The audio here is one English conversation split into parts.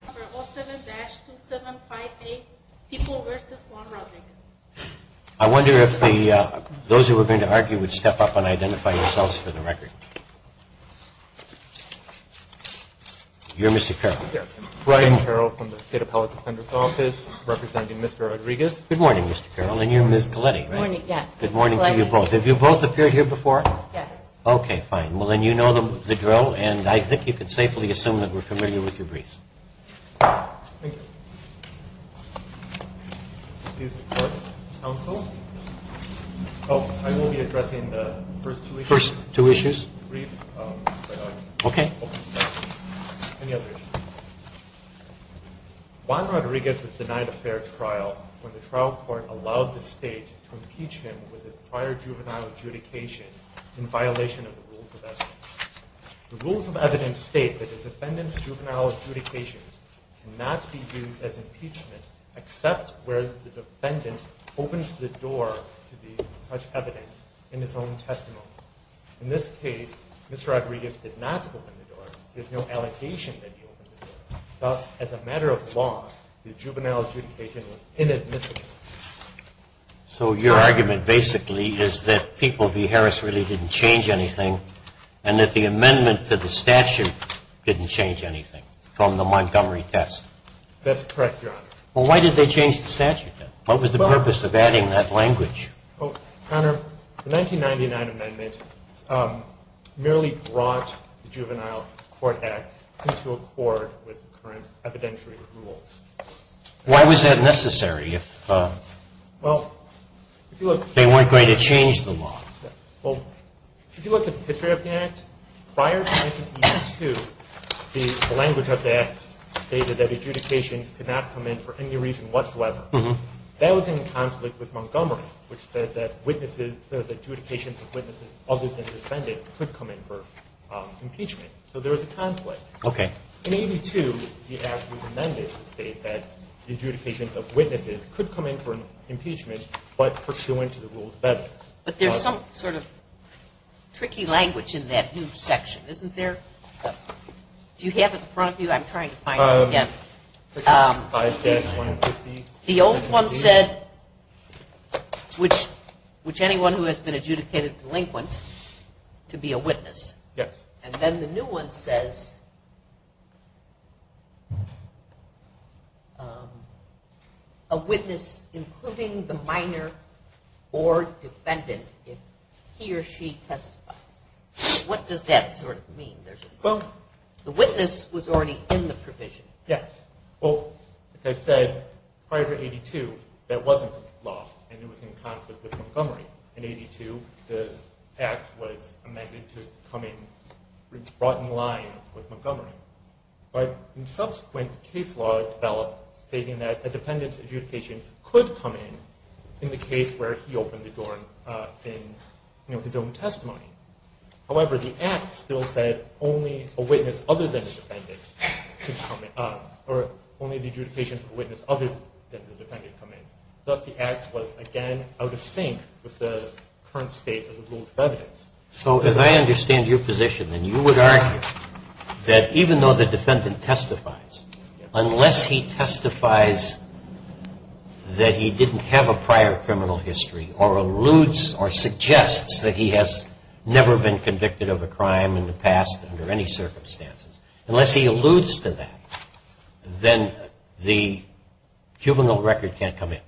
I wonder if those who are going to argue would step up and identify yourselves for the record. You're Mr. Carroll? Yes. Brian Carroll from the State Appellate Defender's Office, representing Mr. Rodriguez. Good morning, Mr. Carroll. And you're Ms. Coletti, right? Good morning, yes. Good morning to you both. Have you both appeared here before? Yes. Okay, fine. Well, then you know the drill, and I think you can safely assume that we're familiar with your briefs. Thank you. Excuse me, Court Counsel. Oh, I will be addressing the first two issues of the brief. Okay. Any other issues? Juan Rodriguez was denied a fair trial when the trial court allowed the State to impeach him with his prior juvenile adjudication in violation of the Rules of Evidence. The Rules of Evidence state that the defendant's juvenile adjudication cannot be used as impeachment except where the defendant opens the door to such evidence in his own testimony. In this case, Mr. Rodriguez did not open the door. There's no allegation that he opened the door. Thus, as a matter of law, the juvenile adjudication was inadmissible. So your argument basically is that people v. Harris really didn't change anything and that the amendment to the statute didn't change anything from the Montgomery test? That's correct, Your Honor. Well, why did they change the statute then? What was the purpose of adding that language? Well, Your Honor, the 1999 amendment merely brought the Juvenile Court Act into accord with current evidentiary rules. Why was that necessary if they weren't going to change the law? Well, if you look at the history of the Act, prior to 1982, the language of the Act stated that adjudications could not come in for any reason whatsoever. That was in conflict with Montgomery, which said that witnesses – that adjudications of witnesses other than defendant could come in for impeachment. So there was a conflict. Okay. In 1982, the Act was amended to state that adjudications of witnesses could come in for impeachment but pursuant to the Rules of Evidence. But there's some sort of tricky language in that new section, isn't there? Do you have it in front of you? I'm trying to find it again. The old one said, which anyone who has been adjudicated delinquent to be a witness. Yes. And then the new one says, a witness including the minor or defendant if he or she testifies. What does that sort of mean? The witness was already in the provision. Yes. Well, as I said, prior to 1982, that wasn't the law and it was in conflict with Montgomery. In 1982, the Act was amended to come in – brought in line with Montgomery. But subsequent case law developed stating that a defendant's adjudication could come in in the case where he opened the door in his own testimony. However, the Act still said only a witness other than the defendant could come in – or only the adjudication for a witness other than the defendant come in. Thus, the Act was again out of sync with the current state of the Rules of Evidence. So as I understand your position, then you would argue that even though the defendant testifies, unless he testifies that he didn't have a prior criminal history or alludes or suggests that he has never been convicted of a crime in the past under any circumstances, unless he alludes to that, then the juvenile record can't come in.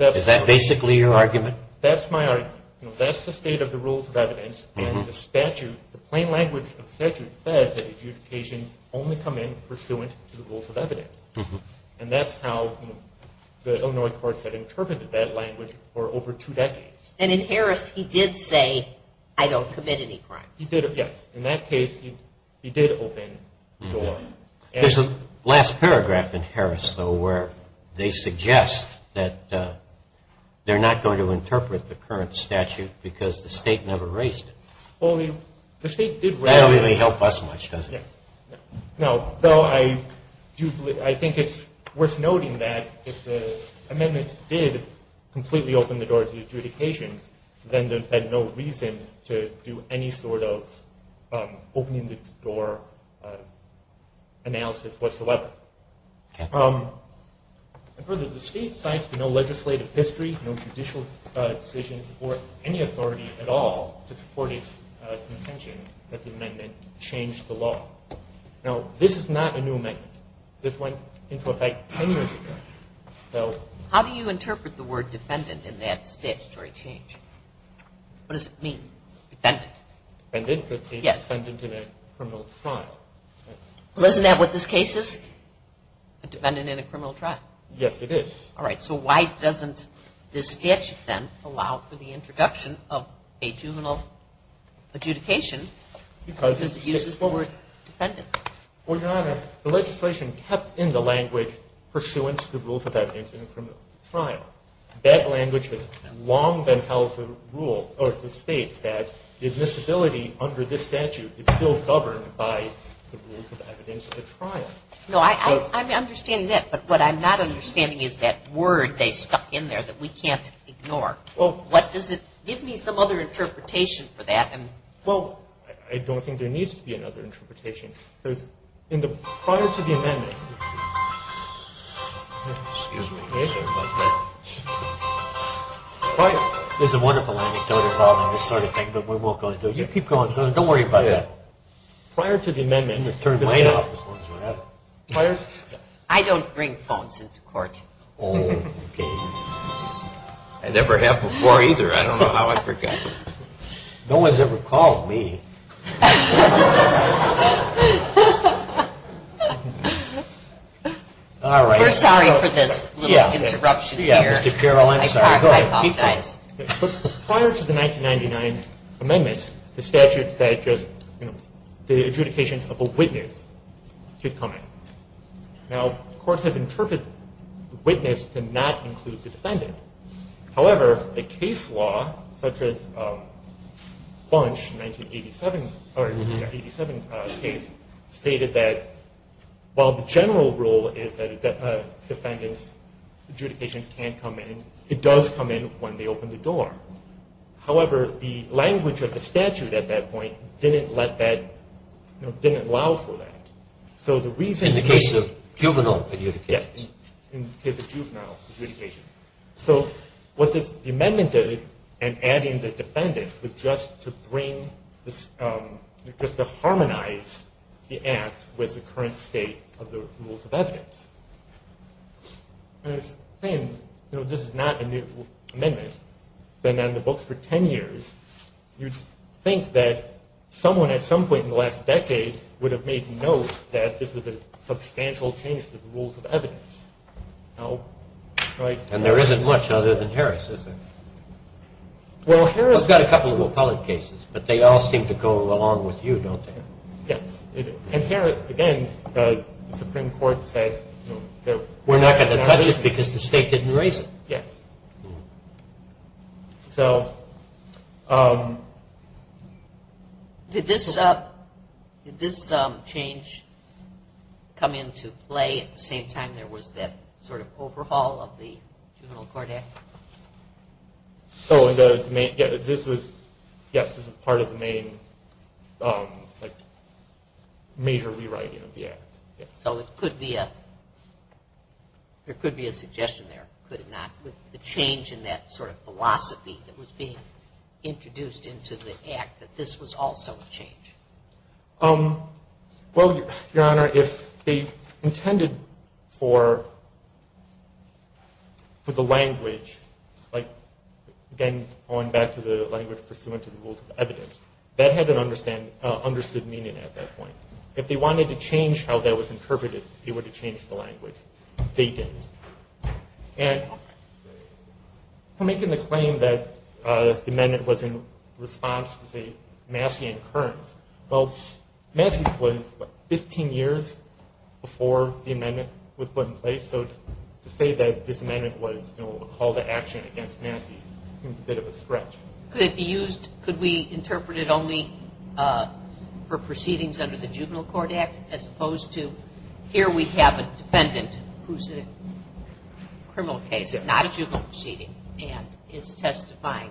Is that basically your argument? That's my argument. That's the state of the Rules of Evidence and the statute – the plain language of the statute says that adjudications only come in pursuant to the Rules of Evidence. And that's how the Illinois courts had interpreted that language for over two decades. And in Harris, he did say, I don't commit any crimes. He did, yes. There's a last paragraph in Harris, though, where they suggest that they're not going to interpret the current statute because the state never raised it. Well, the state did raise it. That doesn't really help us much, does it? No. I think it's worth noting that if the amendments did completely open the door to adjudications, then there's no reason to do any sort of opening the door analysis whatsoever. Further, the state cites no legislative history, no judicial decisions, or any authority at all to support its intention that the amendment change the law. Now, this is not a new amendment. This went into effect 10 years ago. How do you interpret the word defendant in that statutory change? What does it mean, defendant? Defendant could be a defendant in a criminal trial. Well, isn't that what this case is? A defendant in a criminal trial. Yes, it is. All right. So why doesn't this statute, then, allow for the introduction of a juvenile adjudication? Because it uses the word defendant. Well, Your Honor, the legislation kept in the language pursuant to the rules of evidence in a criminal trial. That language has long been held to rule or to state that admissibility under this statute is still governed by the rules of evidence in a trial. No, I'm understanding that, but what I'm not understanding is that word they stuck in there that we can't ignore. What does it – give me some other interpretation for that. Well, I don't think there needs to be another interpretation. Prior to the amendment – Excuse me, sir. There's a wonderful anecdote involving this sort of thing, but we won't go into it. You keep going. Don't worry about it. Prior to the amendment – I don't bring phones into court. Okay. I never have before, either. I don't know how I forgot. No one's ever called me. All right. We're sorry for this little interruption here. Yeah, Mr. Carroll, I'm sorry. Go ahead. Keep going. Prior to the 1999 amendment, the statute said just the adjudication of a witness could come in. Now, courts have interpreted witness to not include the defendant. However, the case law, such as Bunch, 1987 case, stated that while the general rule is that a defendant's adjudication can come in, it does come in when they open the door. However, the language of the statute at that point didn't let that – didn't allow for that. So the reason – In the case of juvenile adjudication. Yes, in the case of juvenile adjudication. So what this – the amendment did in adding the defendant was just to bring this – just to harmonize the act with the current state of the rules of evidence. And it's saying, you know, this is not a new amendment. It's been in the books for 10 years. You'd think that someone at some point in the last decade would have made note that this was a substantial change to the rules of evidence. And there isn't much other than Harris, is there? Well, Harris got a couple of appellate cases, but they all seem to go along with you, don't they? Yes. And Harris, again, the Supreme Court said – We're not going to touch it because the state didn't raise it. Yes. So – Did this change come into play at the same time there was that sort of overhaul of the Juvenile Court Act? So this was – yes, this was part of the main, like, major rewriting of the act. So it could be a – there could be a suggestion there, could it not? With the change in that sort of philosophy that was being introduced into the act, that this was also a change. Well, Your Honor, if they intended for the language, like, again, going back to the language pursuant to the rules of evidence, that had an understood meaning at that point. If they wanted to change how that was interpreted, they would have changed the language. They didn't. And for making the claim that the amendment was in response to, say, Massey and Kearns, well, Massey was, what, 15 years before the amendment was put in place? So to say that this amendment was, you know, a call to action against Massey seems a bit of a stretch. Could it be used – could we interpret it only for proceedings under the Juvenile Court Act, as opposed to, here we have a defendant who's in a criminal case, not a juvenile proceeding, and is testifying.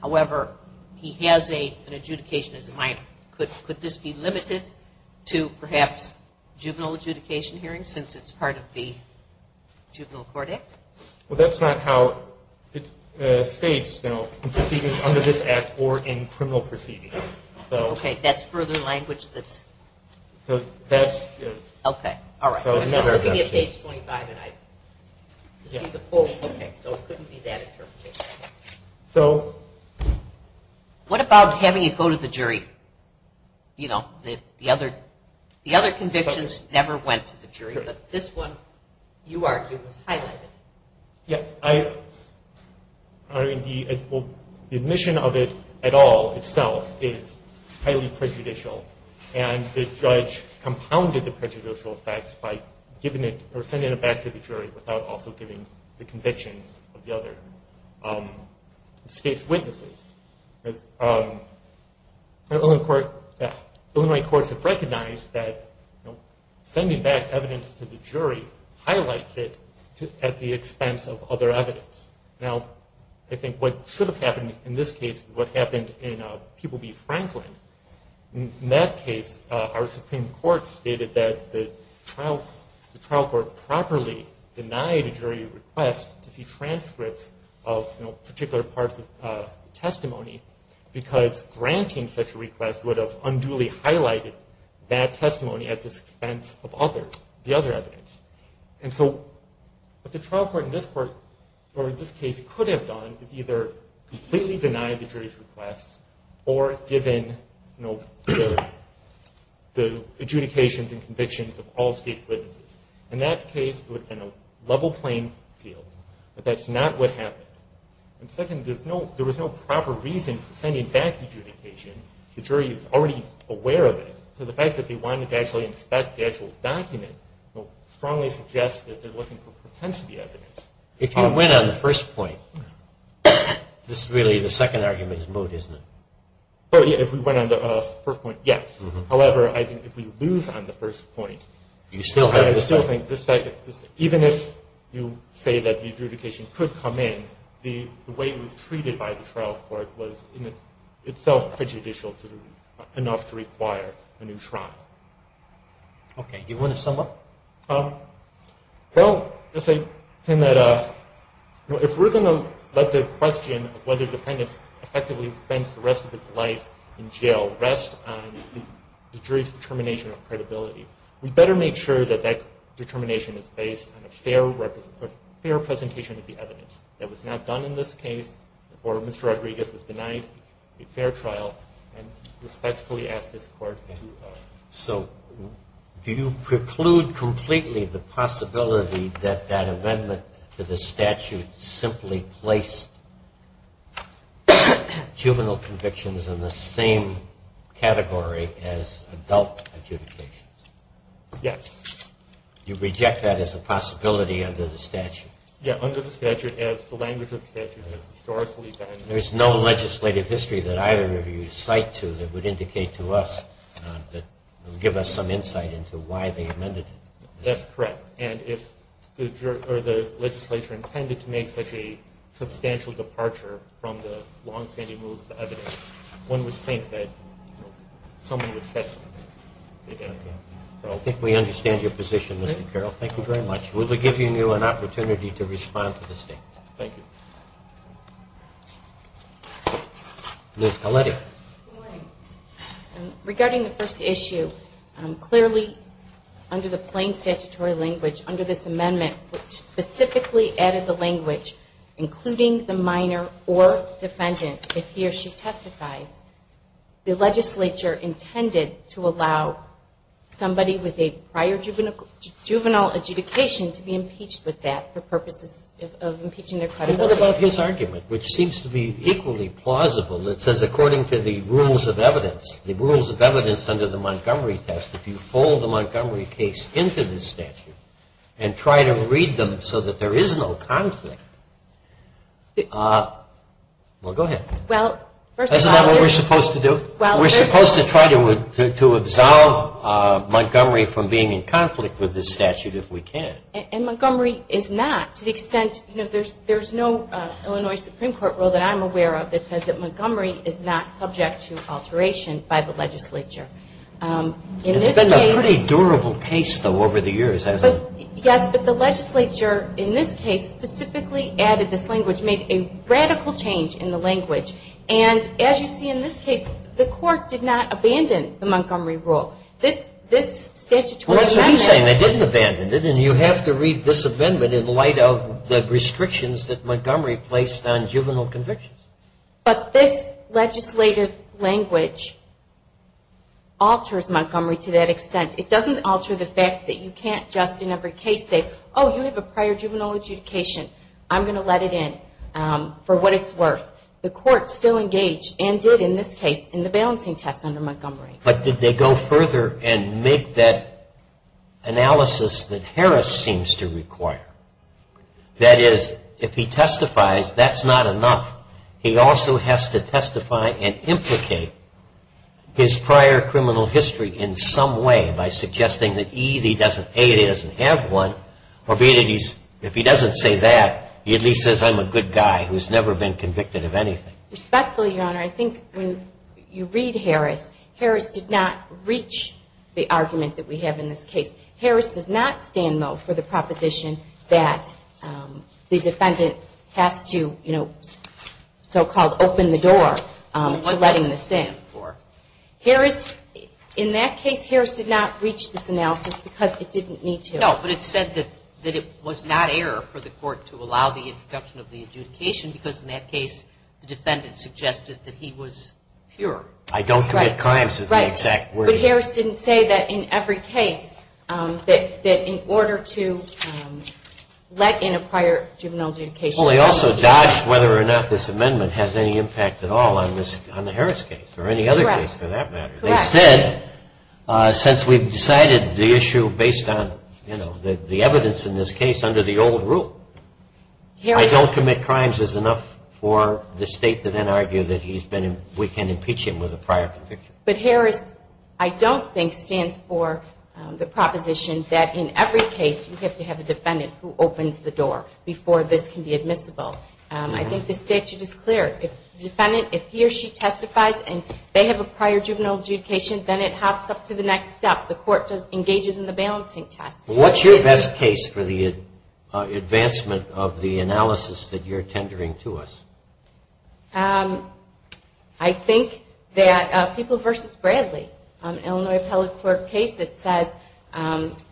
However, he has an adjudication as a minor. Could this be limited to, perhaps, juvenile adjudication hearings, since it's part of the Juvenile Court Act? Well, that's not how it's staged, you know, in proceedings under this act or in criminal proceedings. Okay, that's further language that's – So that's – Okay, all right. I was just looking at page 25, and I – Yeah. Okay, so it couldn't be that interpretation. So – What about having it go to the jury? You know, the other convictions never went to the jury, but this one, you argue, was highlighted. Yes, I – I mean, the admission of it at all, itself, is highly prejudicial, and the judge compounded the prejudicial effect by giving it – or sending it back to the jury without also giving the convictions of the other state's witnesses. Illinois courts have recognized that, you know, sending back evidence to the jury highlights it at the expense of other evidence. Now, I think what should have happened in this case is what happened in People v. Franklin. In that case, our Supreme Court stated that the trial court properly denied a jury request to see transcripts of, you know, particular parts of testimony because granting such a request would have unduly highlighted that testimony at the expense of other – the other evidence. And so what the trial court in this case could have done is either completely deny the jury's request or give in, you know, the adjudications and convictions of all state's witnesses. In that case, it would have been a level playing field, but that's not what happened. And second, there's no – there was no proper reason for sending back adjudication. The jury was already aware of it, so the fact that they wanted to actually inspect the actual document strongly suggests that they're looking for propensity evidence. If you win on the first point, this is really the second argument's moot, isn't it? If we win on the first point, yes. However, I think if we lose on the first point, I still think this – the way it was treated by the trial court was in itself prejudicial enough to require a new trial. Okay. You want to sum up? Well, just saying that if we're going to let the question of whether defendants effectively spent the rest of his life in jail rest on the jury's determination of credibility, we better make sure that that determination is based on a fair representation of the evidence. If it's not done in this case, or Mr. Rodriguez was denied a fair trial, I respectfully ask this Court to – So do you preclude completely the possibility that that amendment to the statute simply placed juvenile convictions in the same category as adult adjudications? Yes. You reject that as a possibility under the statute? Yes, under the statute as the language of the statute has historically been. There's no legislative history that either of you cite to that would indicate to us that would give us some insight into why they amended it? That's correct. And if the legislature intended to make such a substantial departure from the longstanding rules of the evidence, one would think that someone would set them. I think we understand your position, Mr. Carroll. Thank you very much. Would we give you an opportunity to respond to the State? Thank you. Ms. Galetti. Good morning. Regarding the first issue, clearly under the plain statutory language, under this amendment which specifically added the language, including the minor or defendant, if he or she testifies, the legislature intended to allow somebody with a prior juvenile adjudication to be impeached with that for purposes of impeaching their credibility. What about his argument, which seems to be equally plausible? It says according to the rules of evidence, the rules of evidence under the Montgomery test, if you fold the Montgomery case into the statute and try to read them so that there is no conflict. Well, go ahead. Isn't that what we're supposed to do? We're supposed to try to absolve Montgomery from being in conflict with this statute if we can. And Montgomery is not to the extent, you know, there's no Illinois Supreme Court rule that I'm aware of that says that Montgomery is not subject to alteration by the legislature. It's been a pretty durable case, though, over the years, hasn't it? Yes, but the legislature in this case specifically added this language, which made a radical change in the language. And as you see in this case, the court did not abandon the Montgomery rule. This statutory amendment. Well, that's what I'm saying. They didn't abandon it, and you have to read this amendment in light of the restrictions that Montgomery placed on juvenile convictions. But this legislative language alters Montgomery to that extent. It doesn't alter the fact that you can't just in every case say, Oh, you have a prior juvenile adjudication. I'm going to let it in for what it's worth. The court still engaged and did in this case in the balancing test under Montgomery. But did they go further and make that analysis that Harris seems to require? That is, if he testifies, that's not enough. He also has to testify and implicate his prior criminal history in some way by suggesting that either he doesn't have one, or if he doesn't say that, he at least says I'm a good guy who's never been convicted of anything. Respectfully, Your Honor, I think when you read Harris, Harris did not reach the argument that we have in this case. Harris does not stand, though, for the proposition that the defendant has to, you know, so-called open the door to letting the stand. What does he stand for? Harris, in that case, Harris did not reach this analysis because it didn't need to. No, but it said that it was not error for the court to allow the introduction of the adjudication because in that case the defendant suggested that he was pure. I don't commit crimes is the exact word. But Harris didn't say that in every case that in order to let in a prior juvenile adjudication. Well, they also dodged whether or not this amendment has any impact at all on the Harris case or any other case for that matter. They said since we've decided the issue based on, you know, the evidence in this case under the old rule, I don't commit crimes is enough for the state to then argue that we can impeach him with a prior conviction. But Harris, I don't think, stands for the proposition that in every case you have to have a defendant who opens the door before this can be admissible. I think the statute is clear. If the defendant, if he or she testifies and they have a prior juvenile adjudication, then it hops up to the next step. The court engages in the balancing test. What's your best case for the advancement of the analysis that you're tendering to us? I think that People v. Bradley, Illinois Appellate Court case, it says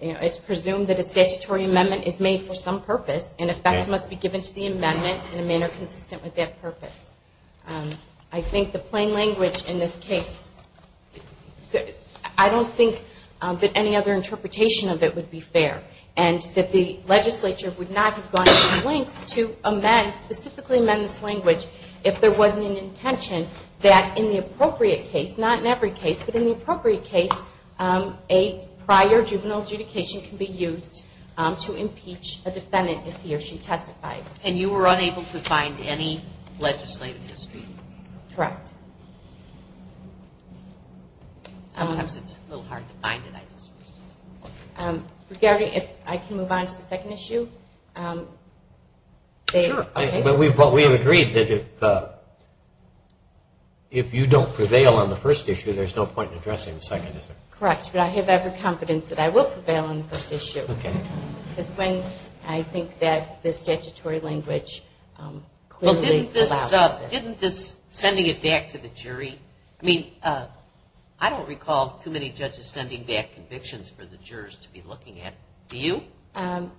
it's presumed that a statutory amendment is made for some purpose and effect must be given to the amendment in a manner consistent with that purpose. I think the plain language in this case, I don't think that any other interpretation of it would be fair and that the legislature would not have gone to length to amend, specifically amend this language, if there wasn't an intention that in the appropriate case, not in every case, but in the appropriate case, a prior juvenile adjudication can be used to impeach a defendant if he or she testifies. And you were unable to find any legislative history? Correct. Sometimes it's a little hard to find it, I suppose. If I can move on to the second issue. Sure, but we've agreed that if you don't prevail on the first issue, there's no point in addressing the second issue. Correct, but I have every confidence that I will prevail on the first issue. Okay. It's when I think that the statutory language clearly allows it. Didn't this sending it back to the jury, I mean, I don't recall too many judges sending back convictions for the jurors to be looking at, do you? Kind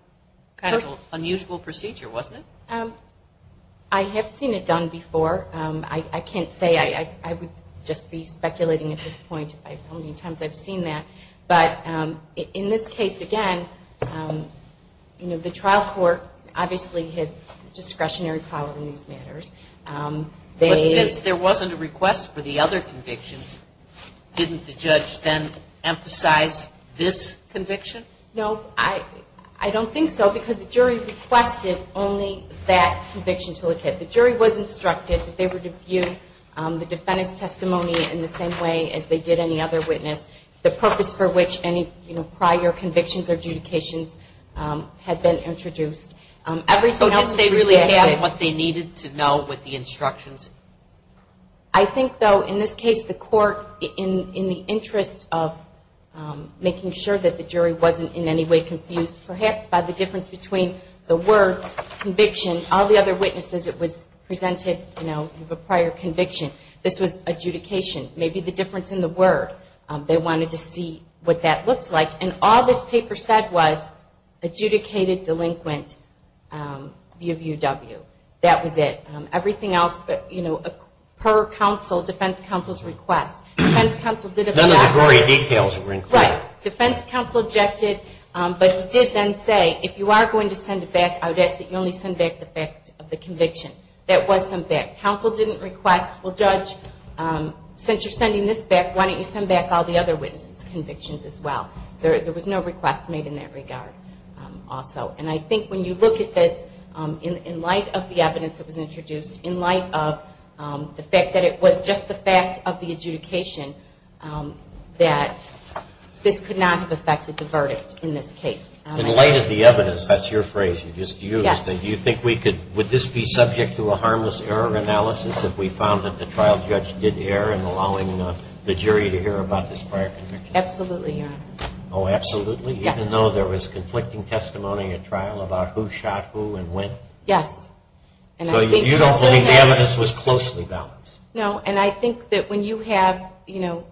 of an unusual procedure, wasn't it? I have seen it done before. I can't say. I would just be speculating at this point how many times I've seen that. But in this case, again, the trial court obviously has discretionary power in these matters. But since there wasn't a request for the other convictions, didn't the judge then emphasize this conviction? No, I don't think so, because the jury requested only that conviction to look at. The jury was instructed that they were to view the defendant's testimony in the same way as they did any other witness, the purpose for which any prior convictions or adjudications had been introduced. So did they really have what they needed to know with the instructions? I think, though, in this case, the court, in the interest of making sure that the jury wasn't in any way confused, perhaps by the difference between the words, conviction, all the other witnesses it was presented, you know, you have a prior conviction. This was adjudication. Maybe the difference in the word. They wanted to see what that looked like. And all this paper said was adjudicated delinquent, B of UW. That was it. Everything else, you know, per counsel, defense counsel's request. None of the glory details were included. Right. Defense counsel objected, but he did then say, if you are going to send it back, I would ask that you only send back the fact of the conviction. That was sent back. Counsel didn't request, well, judge, since you're sending this back, why don't you send back all the other witnesses' convictions as well. There was no request made in that regard also. And I think when you look at this, in light of the evidence that was introduced, in light of the fact that it was just the fact of the adjudication, that this could not have affected the verdict in this case. In light of the evidence, that's your phrase you just used, do you think we could, would this be subject to a harmless error analysis if we found that the trial judge did err in allowing the jury to hear about this prior conviction? Absolutely, Your Honor. Oh, absolutely? Yes. Even though there was conflicting testimony at trial about who shot who and when? Yes. So you don't believe the evidence was closely balanced? No. And I think that when you have, you know,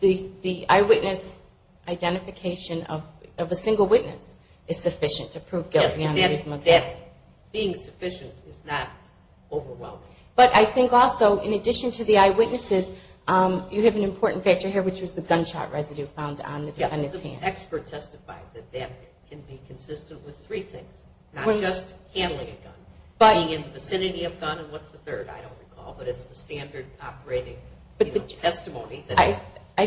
the eyewitness identification of a single witness is sufficient to prove guilty under this modality. Yes. That being sufficient is not overwhelming. But I think also, in addition to the eyewitnesses, you have an important factor here, which was the gunshot residue found on the defendant's hand. An expert testified that that can be consistent with three things, not just handling a gun, being in the vicinity of a gun, and what's the third? I don't recall, but it's the standard operating testimony that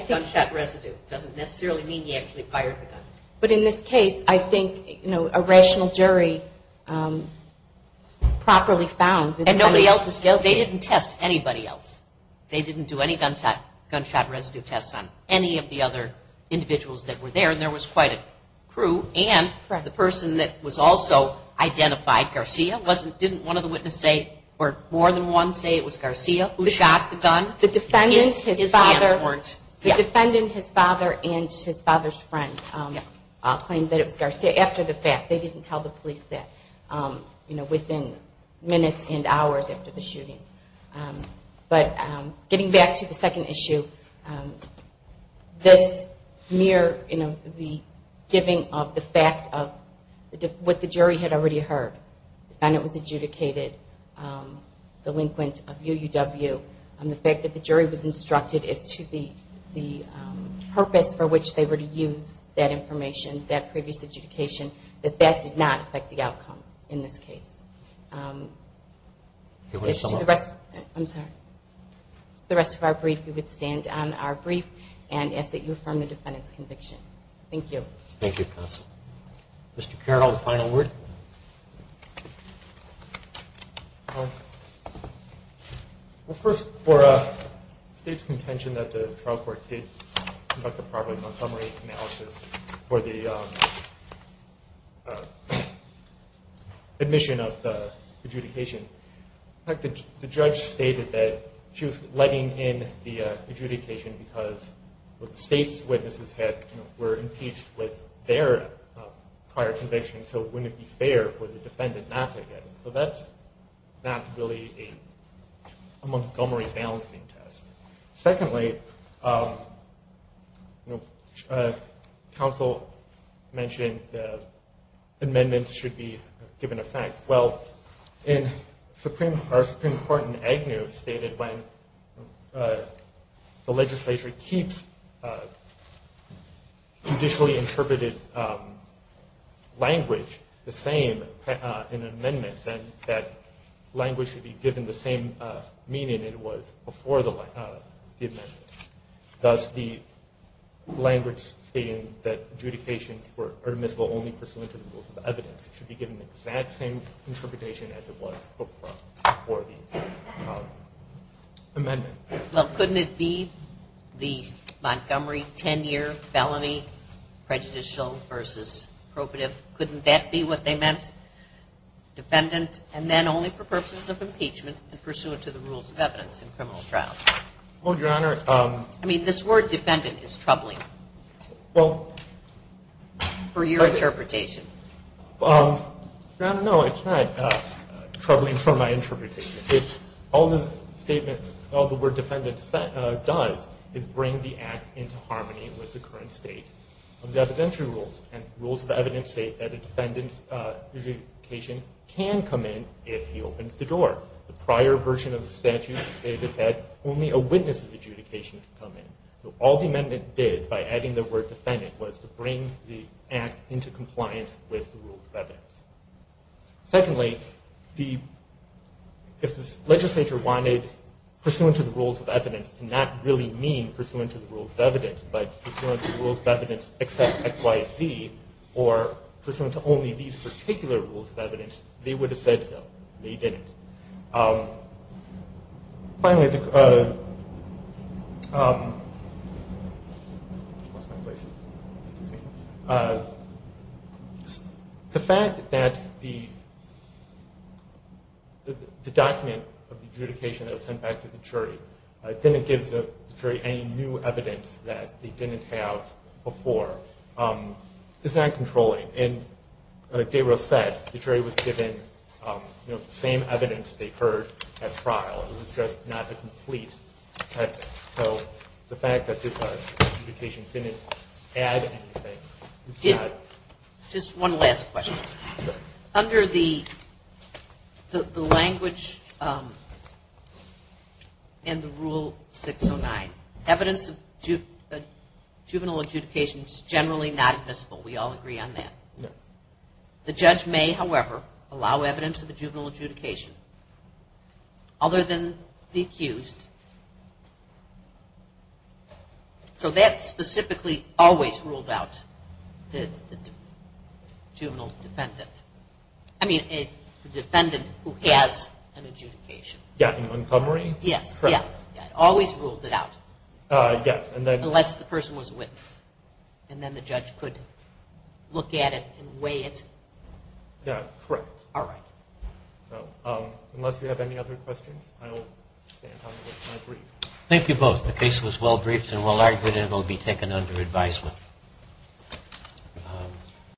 gunshot residue doesn't necessarily mean he actually fired the gun. But in this case, I think, you know, a rational jury properly found that the defendant was guilty. And nobody else, they didn't test anybody else. They didn't do any gunshot residue tests on any of the other individuals that were there, and there was quite a crew. And the person that was also identified, Garcia, didn't one of the witnesses say or more than one say it was Garcia who shot the gun? The defendant, his father, and his father's friend claimed that it was Garcia after the fact. They didn't tell the police that, you know, within minutes and hours after the shooting. But getting back to the second issue, this mere, you know, the giving of the fact of what the jury had already heard, the defendant was adjudicated delinquent of UUW, and the fact that the jury was instructed as to the purpose for which they were to use that information, that previous adjudication, that that did not affect the outcome in this case. To the rest of our brief, we would stand on our brief and ask that you affirm the defendant's conviction. Thank you. Thank you, counsel. Mr. Carroll, final word? Well, first, for a state's contention that the trial court case conducted properly for the admission of the adjudication, the judge stated that she was letting in the adjudication because the state's witnesses were impeached with their prior conviction, so it wouldn't be fair for the defendant not to get it. So that's not really a Montgomery's balancing test. Secondly, counsel mentioned amendments should be given effect. Well, our Supreme Court in Agnew stated when the legislature keeps traditionally interpreted language the same in an amendment, then that language should be given the same meaning it was before the amendment. Thus, the language stated that adjudication were permissible only for cylindrical evidence should be given the exact same interpretation as it was before the amendment. Well, couldn't it be the Montgomery 10-year felony prejudicial versus appropriate? Couldn't that be what they meant? Defendant, and then only for purposes of impeachment and pursuant to the rules of evidence in criminal trials. Well, Your Honor, I mean, this word defendant is troubling for your interpretation. Your Honor, no, it's not troubling for my interpretation. All the statement, all the word defendant does is bring the act into harmony with the current state of the evidentiary rules and rules of evidence state that a defendant's adjudication can come in if he opens the door. The prior version of the statute stated that only a witness's adjudication can come in. So all the amendment did by adding the word defendant was to bring the act into compliance with the rules of evidence. Secondly, if the legislature wanted pursuant to the rules of evidence to not really mean pursuant to the rules of evidence but pursuant to the rules of evidence except X, Y, or Z or pursuant to only these particular rules of evidence, they would have said so. They didn't. Finally, the fact that the document of the adjudication that was sent back to the jury didn't give the jury any new evidence that they didn't have before is not controlling. And like Gabriel said, the jury was given the same evidence they heard at trial. It was just not a complete text. So the fact that the adjudication didn't add anything is not... Just one last question. Under the language and the Rule 609, evidence of juvenile adjudication is generally not admissible. We all agree on that. The judge may, however, allow evidence of a juvenile adjudication other than the accused. So that specifically always ruled out the juvenile defendant. I mean the defendant who has an adjudication. Yeah, in Montgomery? Yes. Correct. Always ruled it out. Yes. Unless the person was a witness, and then the judge could look at it and weigh it. Yeah, correct. All right. So unless you have any other questions, I will stand on my brief. Thank you both. The case was well briefed and well argued, and it will be taken under advisement.